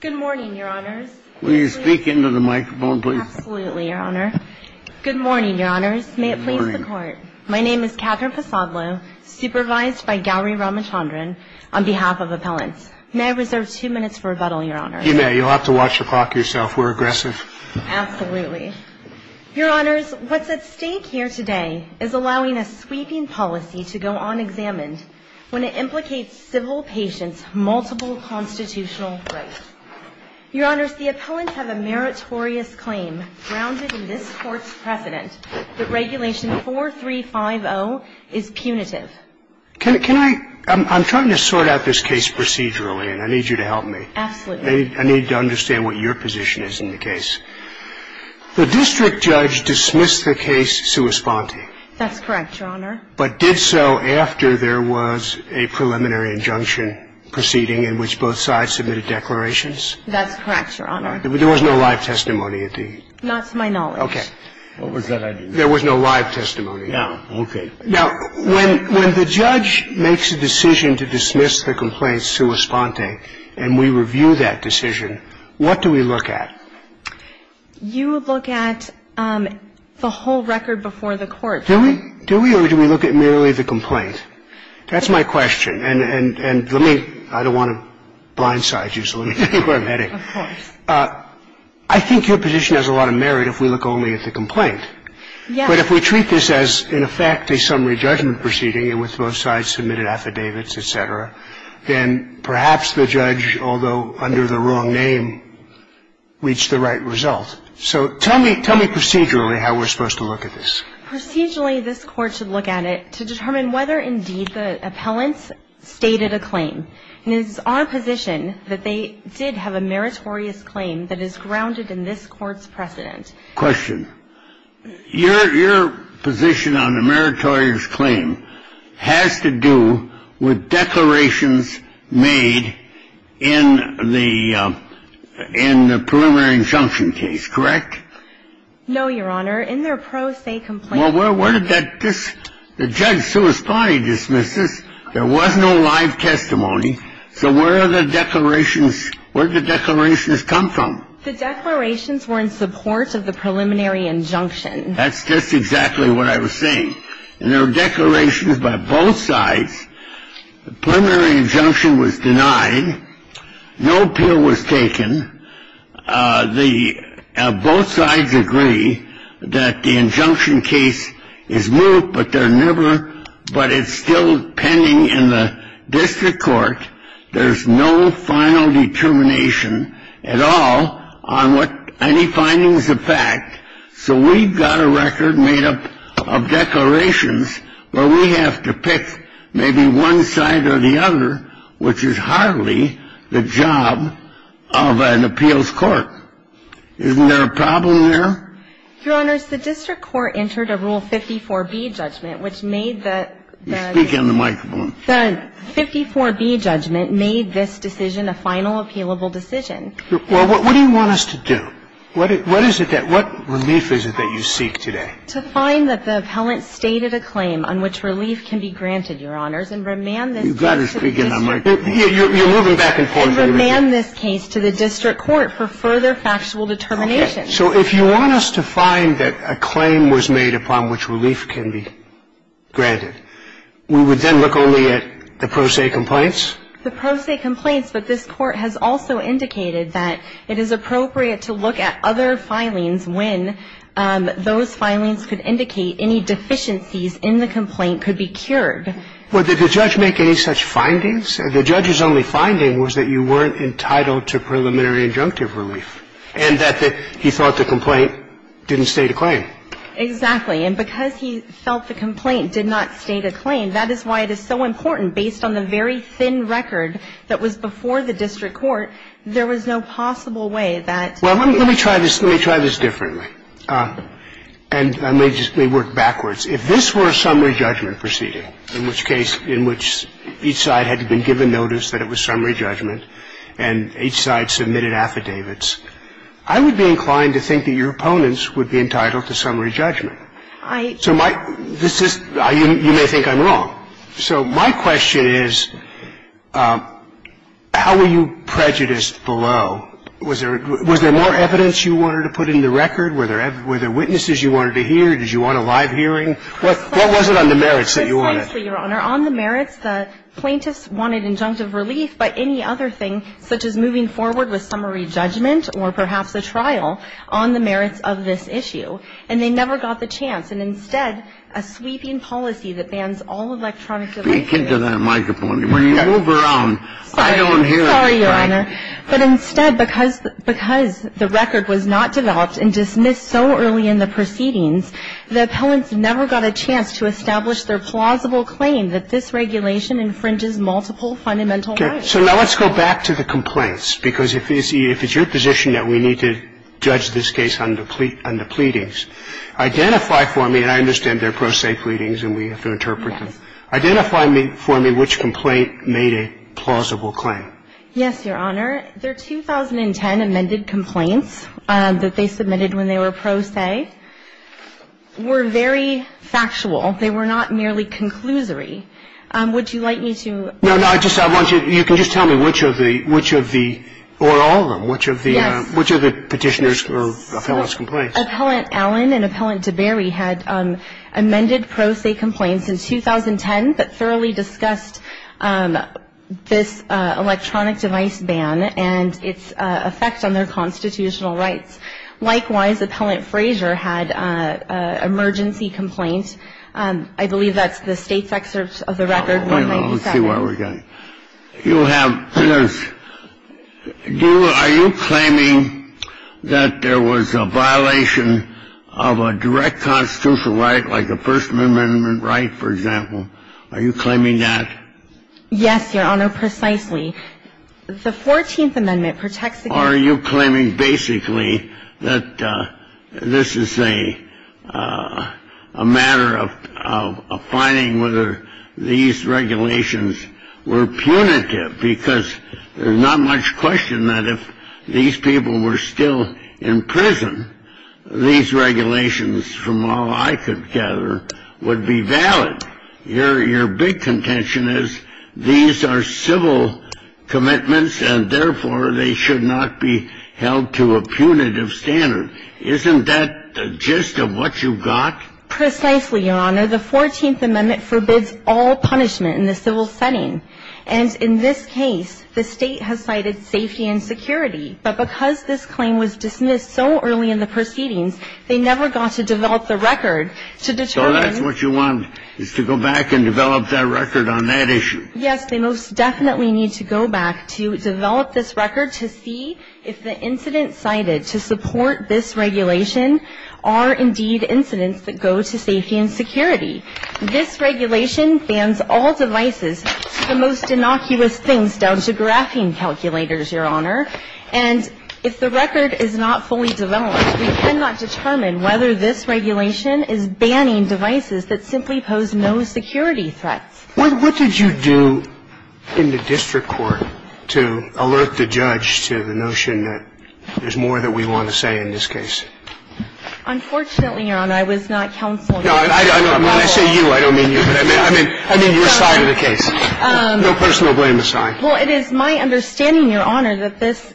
Good morning, your honors. May it please the court. My name is Catherine Pasadlo, supervised by Gowri Ramachandran on behalf of appellants. May I reserve two minutes for rebuttal, your honors? You may. You'll have to watch the clock yourself. We're aggressive. Absolutely. Your honors, what's at stake here today is allowing a sweeping policy to go unexamined when it implicates civil patients' multiple constitutional rights. Your honors, the appellants have a meritorious claim grounded in this court's precedent that regulation 4350 is punitive. Can I – I'm trying to sort out this case procedurally, and I need you to help me. Absolutely. I need to understand what your position is in the case. The district judge dismissed the case sua sponte. That's correct, your honor. But did so after there was a preliminary injunction proceeding in which both sides submitted declarations? That's correct, your honor. There was no live testimony at the – Not to my knowledge. Okay. What was that? There was no live testimony. No. Okay. Now, when the judge makes a decision to dismiss the complaint sua sponte and we review that decision, what do we look at? You look at the whole record before the court. Do we? Do we or do we look at merely the complaint? That's my question. And let me – I don't want to blindside you, so let me get to where I'm heading. Of course. I think your position has a lot of merit if we look only at the complaint. Yeah. But if we treat this as, in effect, a summary judgment proceeding and with both sides submitted affidavits, et cetera, then perhaps the judge, although under the wrong name, reached the right result. So tell me – tell me procedurally how we're supposed to look at this. Procedurally, this Court should look at it to determine whether, indeed, the appellants stated a claim. And it is our position that they did have a meritorious claim that is grounded in this Court's precedent. Question. Your – your position on a meritorious claim has to do with declarations made in the – in the preliminary injunction case, correct? No, Your Honor. In their pro se complaint – Well, where – where did that – this – the judge sua sponte dismissed this. There was no live testimony. So where are the declarations – where did the declarations come from? The declarations were in support of the preliminary injunction. That's just exactly what I was saying. And there were declarations by both sides. The preliminary injunction was denied. No appeal was taken. The – both sides agree that the injunction case is moved, but they're never – but it's still pending in the district court. There's no final determination at all on what any findings affect. So we've got a record made up of declarations where we have to pick maybe one side or the other, which is hardly the job of an appeals court. Isn't there a problem there? Your Honor, the district court entered a Rule 54b judgment, which made the – the – Speak into the microphone. The 54b judgment made this decision a final appealable decision. Well, what do you want us to do? What is it that – what relief is it that you seek today? To find that the appellant stated a claim on which relief can be granted, Your Honors, and remand this case to the district court. You've got to speak into the microphone. You're moving back and forth. And remand this case to the district court for further factual determination. So if you want us to find that a claim was made upon which relief can be granted, we would then look only at the pro se complaints? The pro se complaints, but this Court has also indicated that it is appropriate to look at other filings when those filings could indicate any deficiencies in the complaint could be cured. Well, did the judge make any such findings? The judge's only finding was that you weren't entitled to preliminary injunctive relief and that he thought the complaint didn't state a claim. Exactly. And because he felt the complaint did not state a claim, that is why it is so important, based on the very thin record that was before the district court, there was no possible way that – Well, let me try this – let me try this differently. And I may just – may work backwards. If this were a summary judgment proceeding, in which case – in which each side had been given notice that it was summary judgment and each side submitted affidavits, I would be inclined to think that your opponents would be entitled to summary judgment. I – So my – this is – you may think I'm wrong. So my question is, how were you prejudiced below? Was there – was there more evidence you wanted to put in the record? Were there – were there witnesses you wanted to hear? Did you want a live hearing? What – what was it on the merits that you wanted? Precisely, Your Honor. On the merits, the plaintiffs wanted injunctive relief by any other thing, such as moving forward with summary judgment or perhaps a trial, on the merits of this issue. And they never got the chance. And as of this matter, the Subcommittee on De Сttaminating Substantive Parts has ever forced a title simpler than that to the plaintiffs' case and instead, a sweeping policy that bans all electronic – Speak into the microphone. When – when you move around, I don't hear, right? Sorry, Your Honor. But instead, because the record was not developed and dismissed so early in the proceedings, the appellants never got a chance to establish their plausible claim that this regulation infringes multiple fundamental rights. Okay. So now let's go back to the complaints, because if it's your position that we need to judge this case on the pleadings, identify for me – and I understand they're pro se pleadings and we have to interpret them. Yes. Identify for me which complaint made a plausible claim. Yes, Your Honor. Their 2010 amended complaints that they submitted when they were pro se were very factual. They were not merely conclusory. Would you like me to – No, no. I just – I want you – you can just tell me which of the – which of the – or all of them. Yes. Which of the – which of the Petitioner's or Appellant's complaints? So Appellant Allen and Appellant DeBerry had amended pro se complaints in 2010 that thoroughly discussed this electronic device ban and its effect on their constitutional rights. Likewise, Appellant Frazier had an emergency complaint. I believe that's the state's excerpt of the record. Wait a minute. Let's see where we're going. You have – are you claiming that there was a violation of a direct constitutional right, like the First Amendment right, for example? Are you claiming that? Yes, Your Honor, precisely. The 14th Amendment protects against – Are you claiming basically that this is a matter of finding whether these regulations were punitive? Because there's not much question that if these people were still in prison, these regulations, from all I could gather, would be valid. Your big contention is these are civil commitments, and therefore they should not be held to a punitive standard. Isn't that the gist of what you've got? Precisely, Your Honor. The 14th Amendment forbids all punishment in the civil setting. And in this case, the state has cited safety and security. But because this claim was dismissed so early in the proceedings, they never got to develop the record to determine – So that's what you want, is to go back and develop that record on that issue. Yes, they most definitely need to go back to develop this record to see if the incidents cited to support this regulation are indeed incidents that go to safety and security. This regulation bans all devices, the most innocuous things down to graphing calculators, Your Honor. And if the record is not fully developed, we cannot determine whether this regulation is banning devices that simply pose no security threats. What did you do in the district court to alert the judge to the notion that there's more that we want to say in this case? Unfortunately, Your Honor, I was not counsel. No, when I say you, I don't mean you. I mean your side of the case. No personal blame aside. Well, it is my understanding, Your Honor, that this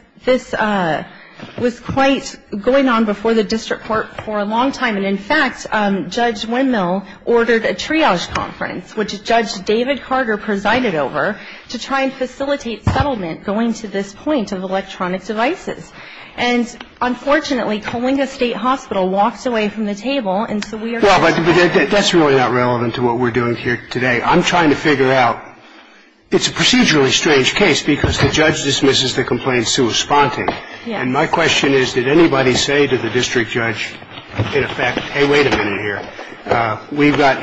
was quite going on before the district court for a long time. And in fact, Judge Windmill ordered a triage conference, which Judge David Carter presided over, to try and facilitate settlement going to this point of electronic devices. And unfortunately, Coalinga State Hospital walked away from the table, and so we are going to have to wait. Well, but that's really not relevant to what we're doing here today. I'm trying to figure out. It's a procedurally strange case because the judge dismisses the complaint sui sponte. And my question is, did anybody say to the district judge, in effect, hey, wait a minute here, we've got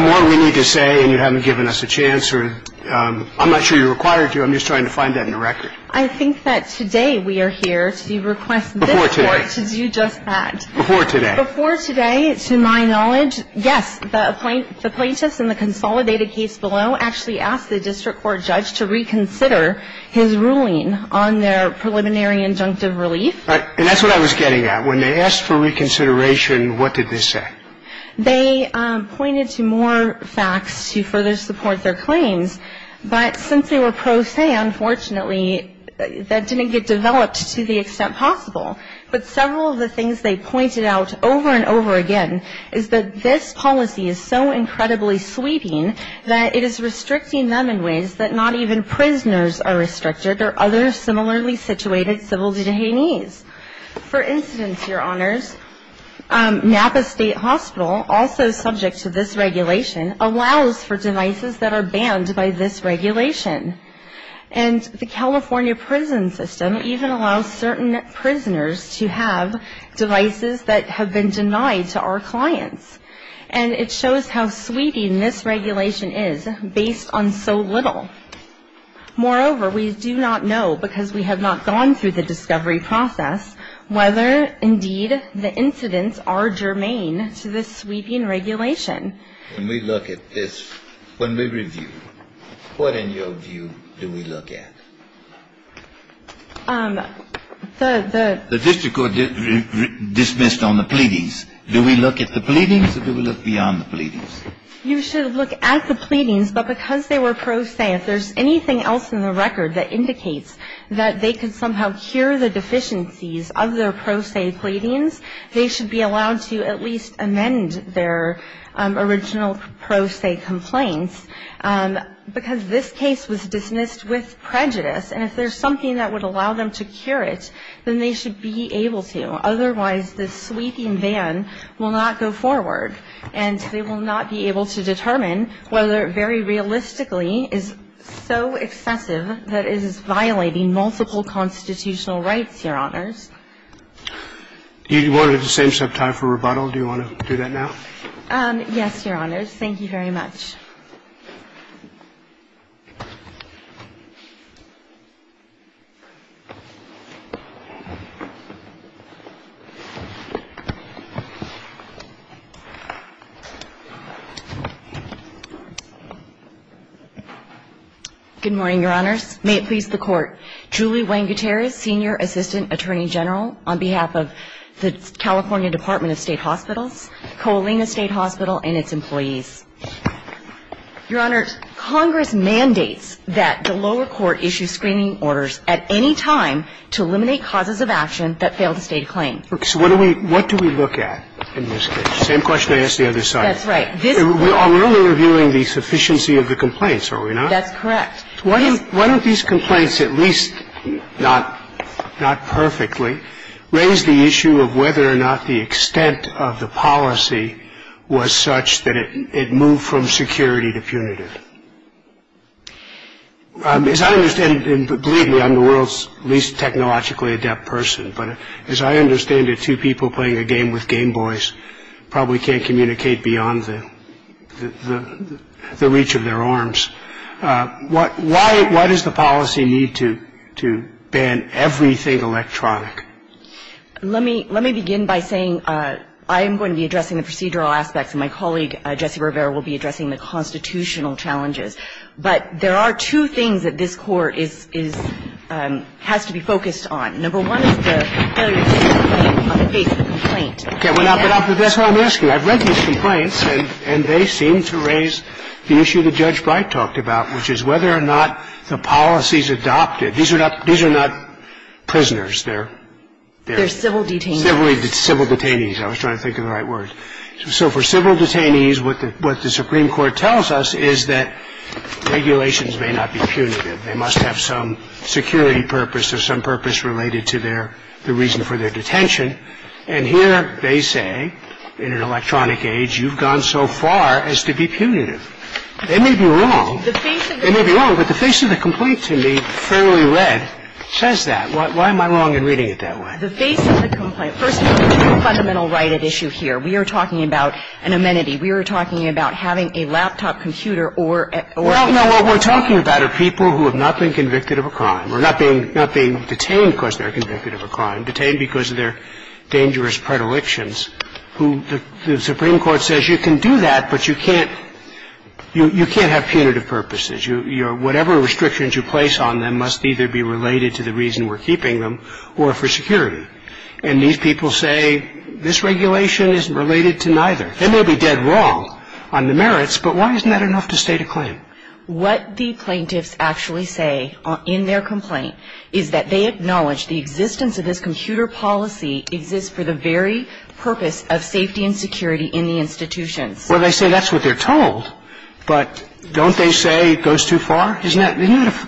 more we need to say, and you haven't given us a chance, or I'm not sure you're required to. I'm just trying to find that in the record. I think that today we are here to request this court to do just that. Before today. Before today, to my knowledge, yes, the plaintiffs in the consolidated case below actually asked the district court judge to reconsider his ruling on their preliminary injunctive relief. And that's what I was getting at. When they asked for reconsideration, what did they say? They pointed to more facts to further support their claims. But since they were pro se, unfortunately, that didn't get developed to the extent possible. But several of the things they pointed out over and over again is that this policy is so incredibly sweeping that it is restricting them in ways that not even prisoners are restricted or other similarly situated civil detainees. For instance, Your Honors, Napa State Hospital, also subject to this regulation, allows for devices that are banned by this regulation. And the California prison system even allows certain prisoners to have devices that have been denied to our clients. And it shows how sweeping this regulation is based on so little. Moreover, we do not know, because we have not gone through the discovery process, whether indeed the incidents are germane to this sweeping regulation. When we look at this, when we review, what, in your view, do we look at? The district court dismissed on the pleadings. Do we look at the pleadings or do we look beyond the pleadings? You should look at the pleadings. But because they were pro se, if there's anything else in the record that indicates that they could somehow cure the deficiencies of their pro se pleadings, they should be allowed to at least amend their original pro se complaints. Because this case was dismissed with prejudice. And if there's something that would allow them to cure it, then they should be able to. Otherwise, this sweeping ban will not go forward. And they will not be able to determine whether it very realistically is so excessive that it is violating multiple constitutional rights, Your Honors. You wanted the same subtype for rebuttal. Do you want to do that now? Yes, Your Honors. Thank you very much. Good morning, Your Honors. May it please the Court. issue a screening order for Julie Wanguteris, Senior Assistant Attorney General, on behalf of the California Department of State Hospitals, Colina State Hospital and its employees. Your Honors, Congress mandates that the lower court issue screening orders at any time to eliminate causes of action that fail to stay in claim. So what do we look at in this case? Same question I asked the other side. That's right. We're only reviewing the sufficiency of the complaints, are we not? That's correct. Why don't these complaints, at least not perfectly, raise the issue of whether or not the extent of the policy was such that it moved from security to punitive? As I understand, and believe me, I'm the world's least technologically adept person, but as I understand it, two people playing a game with Game Boys probably can't communicate beyond the reach of their arms. Why does the policy need to ban everything electronic? Let me begin by saying I am going to be addressing the procedural aspects, and my colleague, Jesse Rivera, will be addressing the constitutional challenges. But there are two things that this Court is – has to be focused on. Number one is the failure to stay in claim on the basis of the complaint. Okay. But that's what I'm asking. I've read these complaints, and they seem to raise the issue that Judge Bright talked about, which is whether or not the policies adopted – these are not prisoners. They're – They're civil detainees. Civil detainees. I was trying to think of the right word. So for civil detainees, what the Supreme Court tells us is that regulations may not be punitive. They must have some security purpose or some purpose related to their – the reason for their detention. And here they say, in an electronic age, you've gone so far as to be punitive. They may be wrong. They may be wrong, but the face of the complaint to me, fairly read, says that. Why am I wrong in reading it that way? The face of the complaint. First of all, there's a fundamental right at issue here. We are talking about an amenity. We are talking about having a laptop computer or a – Well, no, what we're talking about are people who have not been convicted of a crime or not being – not being detained because they're convicted of a crime, detained because of their dangerous predilections, who the Supreme Court says you can do that, but you can't – you can't have punitive purposes. Your – whatever restrictions you place on them must either be related to the reason we're keeping them or for security. And these people say, this regulation isn't related to neither. They may be dead wrong on the merits, but why isn't that enough to state a claim? What the plaintiffs actually say in their complaint is that they acknowledge the existence of this computer policy exists for the very purpose of safety and security in the institutions. Well, they say that's what they're told, but don't they say it goes too far? Isn't that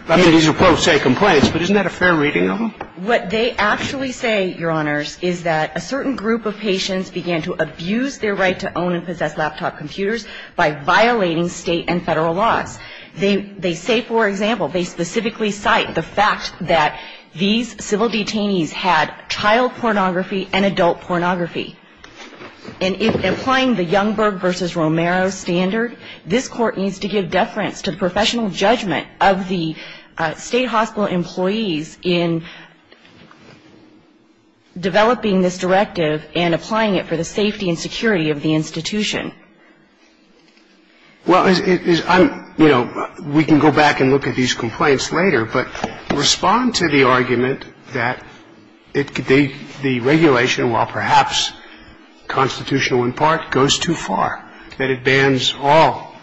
– I mean, these are, quote, say, complaints, but isn't that a fair reading of them? What they actually say, Your Honors, is that a certain group of patients began to abuse their right to own and possess laptop computers by violating state and federal laws. They say, for example, they specifically cite the fact that these civil detainees had child pornography and adult pornography. And in applying the Youngberg v. Romero standard, this Court needs to give deference to the professional judgment of the state hospital employees in developing this directive and applying it for the safety and security of the institution. Well, I'm – you know, we can go back and look at these complaints later, but respond to the argument that the regulation, while perhaps constitutional in part, goes too far, that it bans all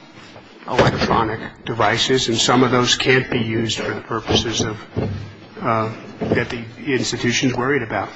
electronic devices, and some of those can't be used for the purposes of – that the institution's worried about.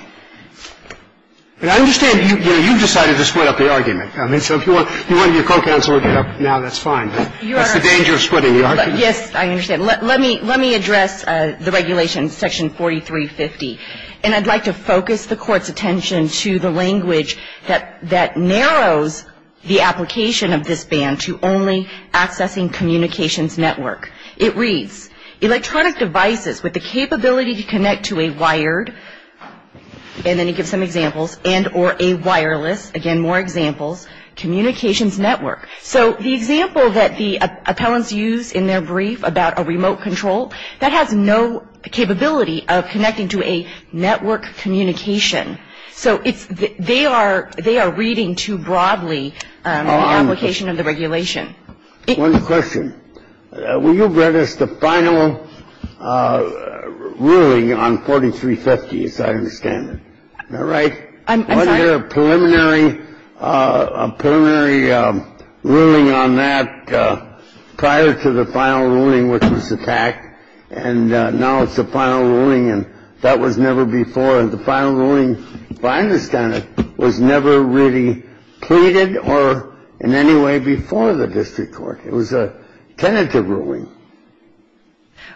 And I understand, you know, you decided to split up the argument. I mean, so if you want your co-counsel to get up now, that's fine. But that's the danger of splitting the argument. Yes, I understand. Let me address the regulation, Section 4350. And I'd like to focus the Court's attention to the language that narrows the application of this ban to only accessing communications network. It reads, electronic devices with the capability to connect to a wired – and then he gives some examples – and or a wireless – again, more examples – communications network. So the example that the appellants use in their brief about a remote control, that has no capability of connecting to a network communication. So it's – they are reading too broadly the application of the regulation. One question. Well, you've read us the final ruling on 4350, as I understand it. Am I right? I'm sorry? Wasn't there a preliminary ruling on that prior to the final ruling, which was attacked? And now it's the final ruling, and that was never before. The final ruling, if I understand it, was never really pleaded or in any way before the district court. It was a tentative ruling.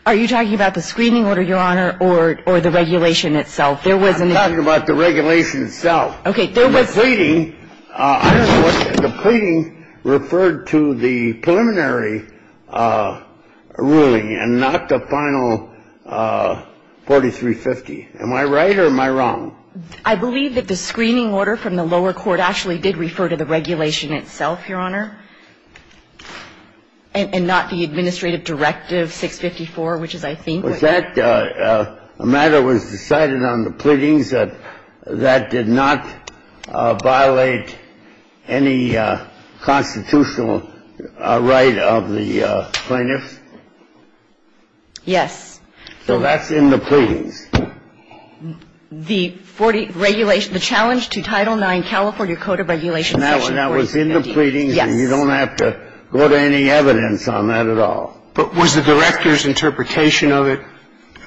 Are you talking about the screening order, Your Honor, or the regulation itself? I'm talking about the regulation itself. Okay, there was – The pleading – I don't know what – the pleading referred to the preliminary ruling and not the final 4350. Am I right or am I wrong? I believe that the screening order from the lower court actually did refer to the regulation itself, Your Honor, and not the administrative directive 654, which is, I think – Was that – a matter was decided on the pleadings that that did not violate any constitutional right of the plaintiffs? Yes. So that's in the pleadings? The 40 regulation – the challenge to Title IX California Code of Regulations section 4350. And that was in the pleadings? Yes. And you don't have to go to any evidence on that at all? But was the director's interpretation of it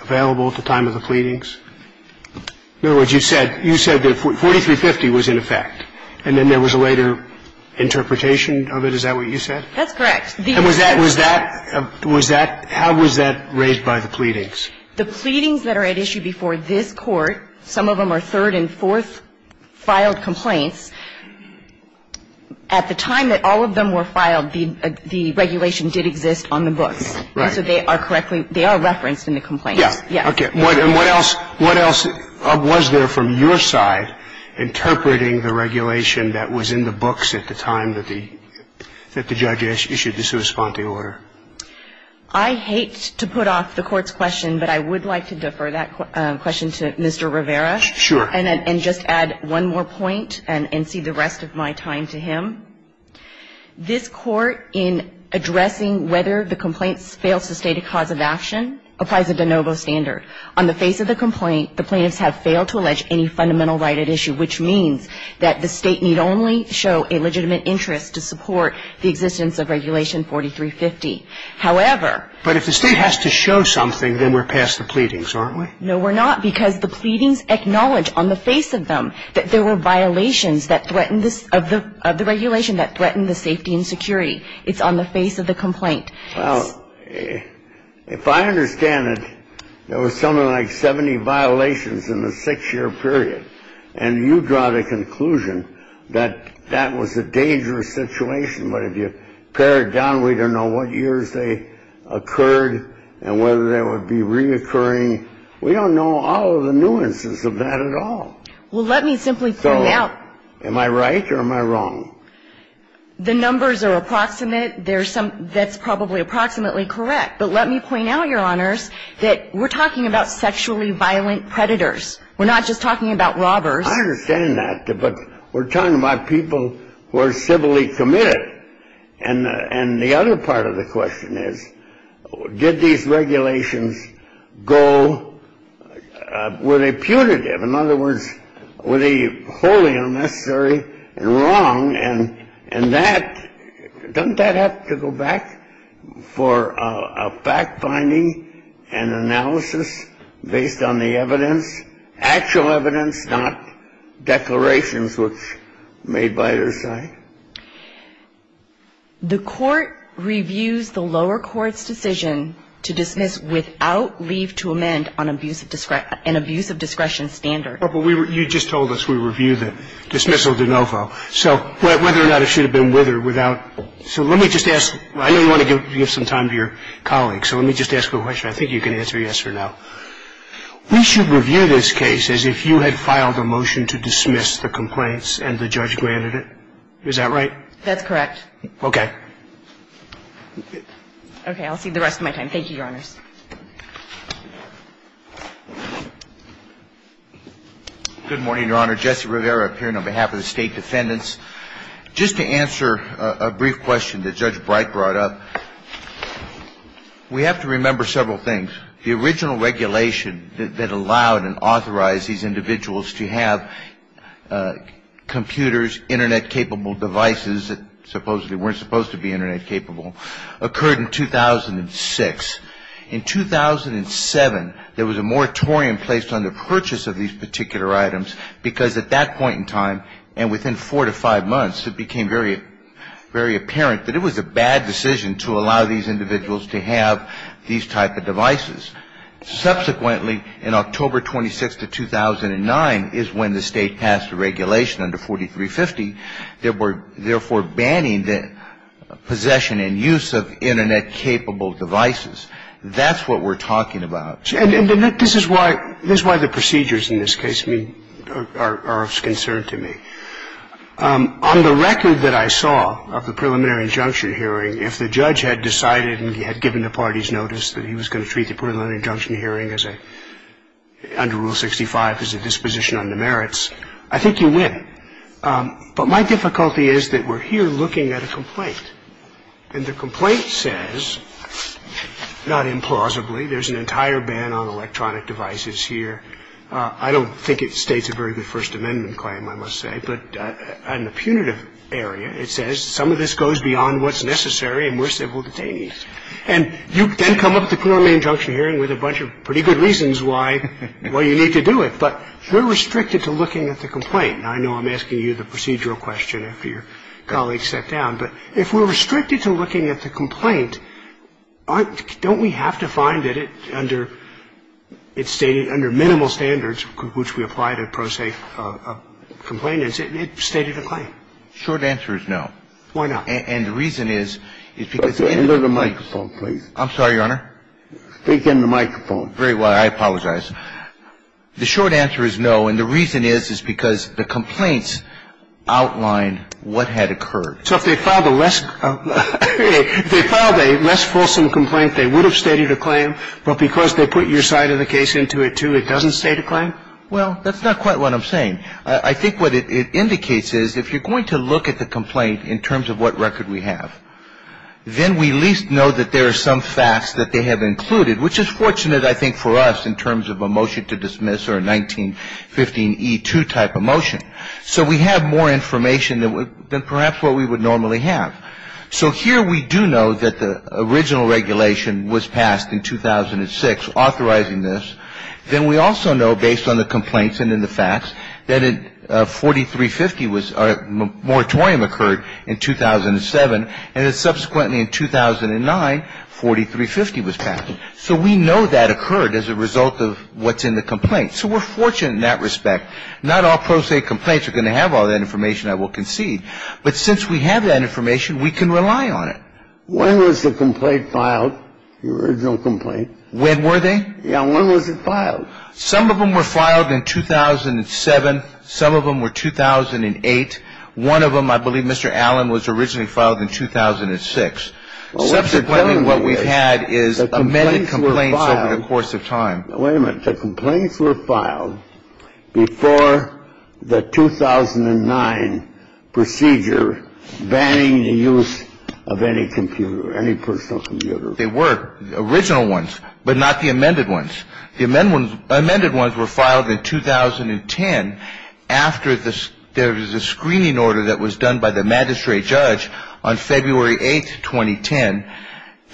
available at the time of the pleadings? In other words, you said that 4350 was in effect, and then there was a later interpretation of it. Is that what you said? That's correct. And was that – was that – was that – how was that raised by the pleadings? The pleadings that are at issue before this Court, some of them are third and fourth filed complaints. At the time that all of them were filed, the regulation did exist on the books. Right. And so they are correctly – they are referenced in the complaints. Yes. Yes. Okay. And what else – what else was there from your side interpreting the regulation that was in the books at the time that the – that the judge issued the sua sponte order? I hate to put off the Court's question, but I would like to defer that question to Mr. Rivera. Sure. And just add one more point and see the rest of my time to him. This Court, in addressing whether the complaint fails to state a cause of action, applies a de novo standard. On the face of the complaint, the plaintiffs have failed to allege any fundamental right at issue, which means that the State need only show a legitimate interest to support the existence of Regulation 4350. However – But if the State has to show something, then we're past the pleadings, aren't we? No, we're not, because the pleadings acknowledge on the face of them that there were violations that threatened – of the regulation that threatened the safety and security. It's on the face of the complaint. Well, if I understand it, there was something like 70 violations in the six-year period, and you draw the conclusion that that was a dangerous situation. But if you pare it down, we don't know what years they occurred and whether they would be reoccurring. We don't know all of the nuances of that at all. Well, let me simply point out – So am I right or am I wrong? The numbers are approximate. That's probably approximately correct. But let me point out, Your Honors, that we're talking about sexually violent predators. We're not just talking about robbers. I understand that, but we're talking about people who are civilly committed. And the other part of the question is, did these regulations go – were they putative? In other words, were they wholly unnecessary and wrong? And that – doesn't that have to go back for a fact-finding and analysis based on the evidence, actual evidence, not declarations which made by their side? The court reviews the lower court's decision to dismiss without leave to amend an abuse of discretion standard. But you just told us we review the dismissal de novo. So whether or not it should have been with or without – so let me just ask – I know you want to give some time to your colleagues, so let me just ask a question. I think you can answer yes or no. We should review this case as if you had filed a motion to dismiss the complaints and the judge granted it. Is that right? That's correct. Okay. Okay. I'll save the rest of my time. Thank you, Your Honors. Good morning, Your Honor. Jesse Rivera, appearing on behalf of the State Defendants. Just to answer a brief question that Judge Bright brought up, we have to remember several things. The original regulation that allowed and authorized these individuals to have computers, Internet-capable devices that supposedly weren't supposed to be Internet-capable, occurred in 2006. In 2007, there was a moratorium placed on the purchase of these particular items, because at that point in time and within four to five months, it became very apparent that it was a bad decision to allow these individuals to have these type of devices. Subsequently, in October 26th of 2009 is when the State passed a regulation under 4350, therefore banning the possession and use of Internet-capable devices. That's what we're talking about. And this is why the procedures in this case are of concern to me. On the record that I saw of the preliminary injunction hearing, if the judge had decided and he had given the parties notice that he was going to treat the preliminary injunction hearing under Rule 65 as a disposition on the merits, I think you win. But my difficulty is that we're here looking at a complaint. And the complaint says, not implausibly, there's an entire ban on electronic devices here. I don't think it states a very good First Amendment claim, I must say. But in the punitive area, it says some of this goes beyond what's necessary and we're civil detainees. And you then come up with a preliminary injunction hearing with a bunch of pretty good reasons why you need to do it. But we're restricted to looking at the complaint. Now, I know I'm asking you the procedural question after your colleague sat down. But if we're restricted to looking at the complaint, don't we have to find that it's stated under minimal standards which we apply to pro se complainants? It stated a claim. Short answer is no. Why not? And the reason is, is because... End of the microphone, please. I'm sorry, Your Honor. Speak in the microphone. Very well. I apologize. The short answer is no. And the reason is, is because the complaints outline what had occurred. So if they filed a less fulsome complaint, they would have stated a claim. But because they put your side of the case into it, too, it doesn't state a claim? Well, that's not quite what I'm saying. I think what it indicates is if you're going to look at the complaint in terms of what record we have, then we at least know that there are some facts that they have included, which is fortunate, I think, for us in terms of a motion to dismiss or a 1915e2 type of motion. So we have more information than perhaps what we would normally have. So here we do know that the original regulation was passed in 2006 authorizing this. Then we also know, based on the complaints and in the facts, that a 4350 moratorium occurred in 2007, and then subsequently in 2009, 4350 was passed. So we know that occurred as a result of what's in the complaint. So we're fortunate in that respect. Now, not all pro se complaints are going to have all that information, I will concede. But since we have that information, we can rely on it. When was the complaint filed, the original complaint? When were they? Yeah, when was it filed? Some of them were filed in 2007. Some of them were 2008. One of them, I believe, Mr. Allen, was originally filed in 2006. Subsequently, what we've had is amended complaints over the course of time. Wait a minute. The complaints were filed before the 2009 procedure banning the use of any computer, any personal computer. They were original ones, but not the amended ones. The amended ones were filed in 2010 after there was a screening order that was done by the magistrate judge on February 8, 2010,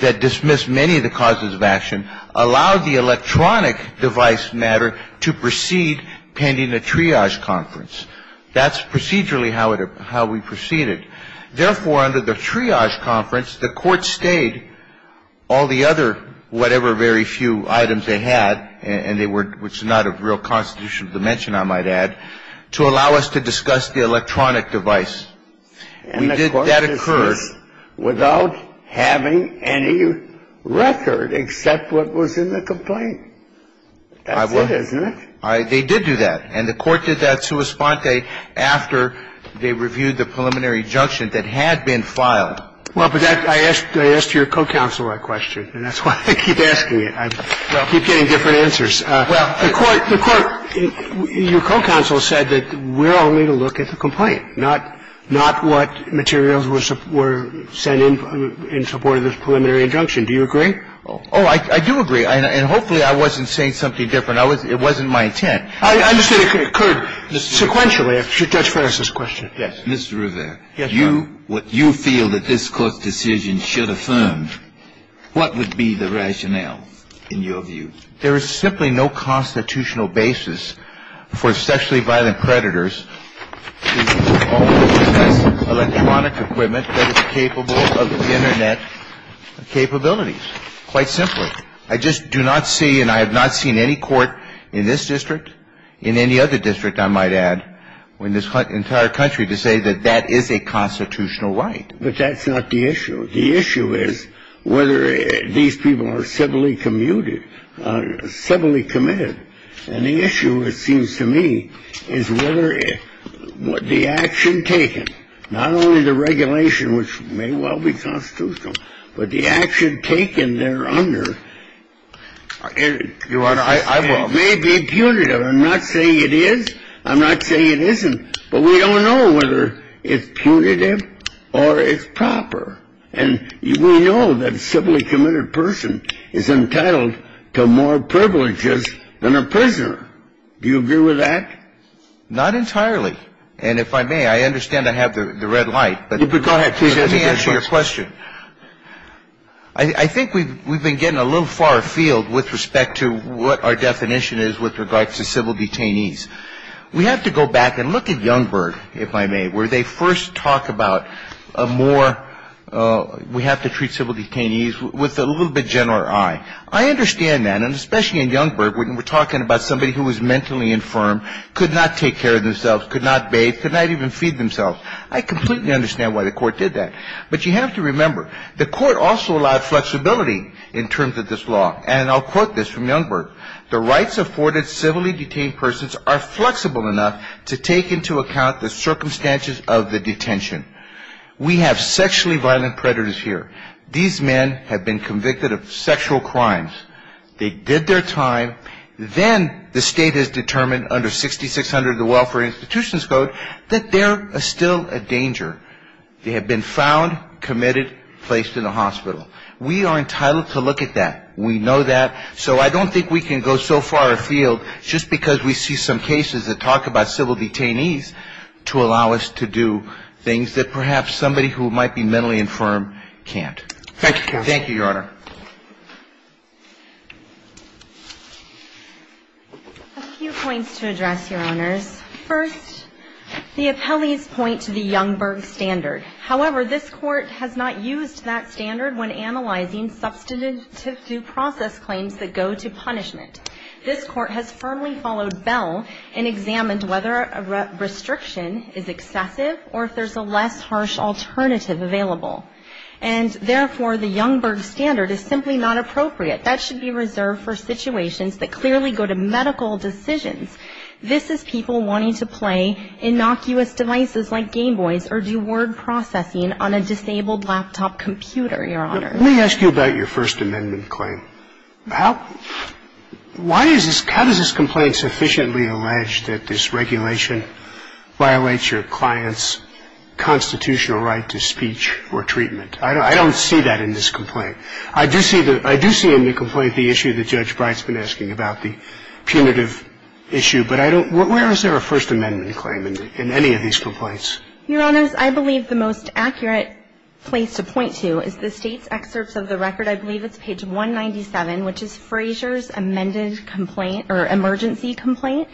that dismissed many of the causes of action, allowed the electronic device matter to proceed pending a triage conference. That's procedurally how we proceeded. Therefore, under the triage conference, the court stayed all the other whatever very few items they had, and they were not of real constitutional dimension, I might add, to allow us to discuss the electronic device. And the court dismissed without having any record except what was in the complaint. That's it, isn't it? They did do that. And the court did that sua sponte after they reviewed the preliminary injunction that had been filed. Well, but that's why I asked your co-counsel my question, and that's why I keep asking it. I keep getting different answers. Well, the court, your co-counsel said that we're only to look at the complaint, not what materials were sent in in support of this preliminary injunction. Do you agree? Oh, I do agree. And hopefully I wasn't saying something different. It wasn't my intent. I'm just saying it occurred sequentially. Judge Ferris has a question. Yes. Mr. Rivera. Yes, Your Honor. You feel that this Court's decision should affirm what would be the rationale in your view. There is simply no constitutional basis for sexually violent predators to possess electronic equipment that is capable of Internet capabilities. Quite simply. I just do not see, and I have not seen any court in this district, in any other district, I might add, or in this entire country to say that that is a constitutional right. But that's not the issue. The issue is whether these people are civilly commuted, civilly committed. And the issue, it seems to me, is whether the action taken, not only the regulation, which may well be constitutional, but the action taken there under may be punitive. I'm not saying it is. I'm not saying it isn't. But we don't know whether it's punitive or it's proper. And we know that a civilly committed person is entitled to more privileges than a prisoner. Do you agree with that? Not entirely. And if I may, I understand I have the red light. Go ahead. Let me answer your question. I think we've been getting a little far afield with respect to what our definition is with regards to civil detainees. We have to go back and look at Youngberg, if I may, where they first talk about more we have to treat civil detainees with a little bit general eye. I understand that. And especially in Youngberg, we're talking about somebody who was mentally infirm, could not take care of themselves, could not bathe, could not even feed themselves. I completely understand why the Court did that. But you have to remember, the Court also allowed flexibility in terms of this law. And I'll quote this from Youngberg. The rights afforded civilly detained persons are flexible enough to take into account the circumstances of the detention. We have sexually violent predators here. These men have been convicted of sexual crimes. They did their time. Then the State has determined under 6600 of the Welfare Institutions Code that they're still a danger. They have been found, committed, placed in a hospital. We are entitled to look at that. We know that. So I don't think we can go so far afield just because we see some cases that talk about civil detainees to allow us to do things that perhaps somebody who might be mentally infirm can't. Thank you, Your Honor. A few points to address, Your Honors. First, the appellees point to the Youngberg standard. However, this Court has not used that standard when analyzing substantive due process claims that go to punishment. This Court has firmly followed Bell and examined whether a restriction is excessive or if there's a less harsh alternative available. And therefore, the Youngberg standard is simply not appropriate. That should be reserved for situations that clearly go to medical decisions. This is people wanting to play innocuous devices like Game Boys or do word processing on a disabled laptop computer, Your Honor. Let me ask you about your First Amendment claim. How does this complaint sufficiently allege that this regulation violates your client's constitutional right to speech or treatment? I don't see that in this complaint. I do see in the complaint the issue that Judge Bright's been asking about, the punitive issue. But I don't – where is there a First Amendment claim in any of these complaints? Your Honors, I believe the most accurate place to point to is the State's excerpts of the record. I believe it's page 197, which is Fraser's amended complaint or emergency complaint.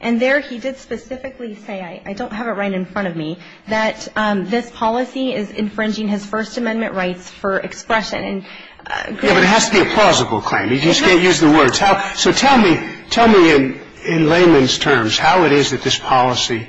And there he did specifically say – I don't have it right in front of me – that this policy is infringing his First Amendment rights for expression. Yeah, but it has to be a plausible claim. You just can't use the words. So tell me in layman's terms how it is that this policy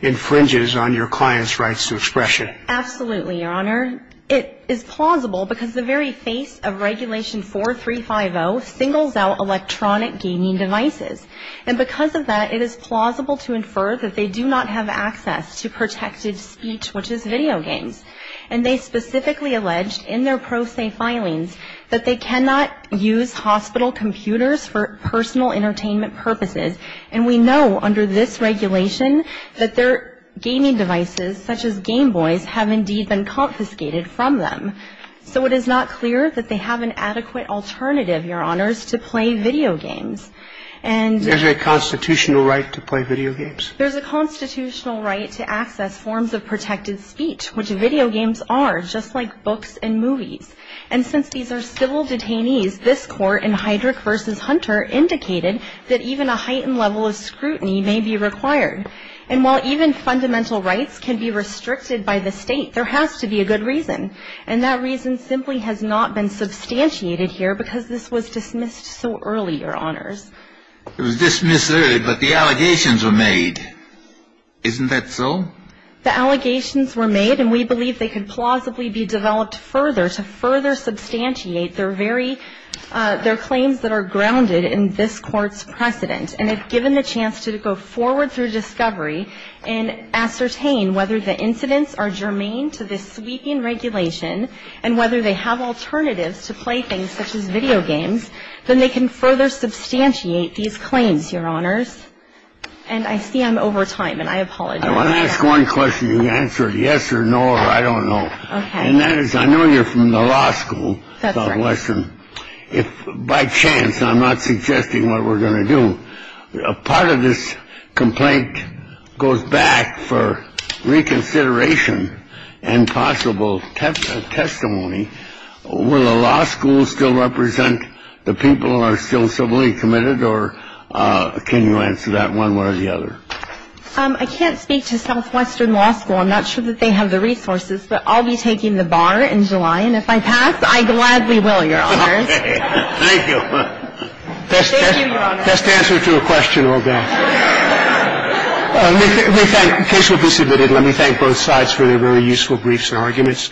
infringes on your client's rights to expression. Absolutely, Your Honor. It is plausible because the very face of Regulation 4350 singles out electronic gaming devices. And because of that, it is plausible to infer that they do not have access to protected speech, which is video games. And they specifically alleged in their pro se filings that they cannot use hospital computers for personal entertainment purposes. And we know under this regulation that their gaming devices, such as Game Boys, have indeed been confiscated from them. So it is not clear that they have an adequate alternative, Your Honors, to play video games. And – There's a constitutional right to play video games? There's a constitutional right to access forms of protected speech, which video games are, just like books and movies. And since these are civil detainees, this Court in Heydrich v. Hunter indicated that even a heightened level of scrutiny may be required. And while even fundamental rights can be restricted by the State, there has to be a good reason. And that reason simply has not been substantiated here because this was dismissed so early, Your Honors. It was dismissed early, but the allegations were made. Isn't that so? The allegations were made, and we believe they could plausibly be developed further to further substantiate their very – their claims that are grounded in this Court's precedent. And if given the chance to go forward through discovery and ascertain whether the incidents are germane to this sweeping regulation and whether they have alternatives to play things such as video games, then they can further substantiate these claims, Your Honors. And I see I'm over time, and I apologize. I want to ask one question. You answered yes or no, or I don't know. Okay. And that is, I know you're from the law school, Southwestern. That's right. If by chance – and I'm not suggesting what we're going to do – part of this complaint goes back for reconsideration and possible testimony. Will the law school still represent the people who are still civilly committed, or can you answer that one way or the other? I can't speak to Southwestern Law School. I'm not sure that they have the resources, but I'll be taking the bar in July, and if I pass, I gladly will, Your Honors. Thank you. Thank you, Your Honors. Best answer to a question or both. In case we're disinvited, let me thank both sides for their very useful briefs and arguments.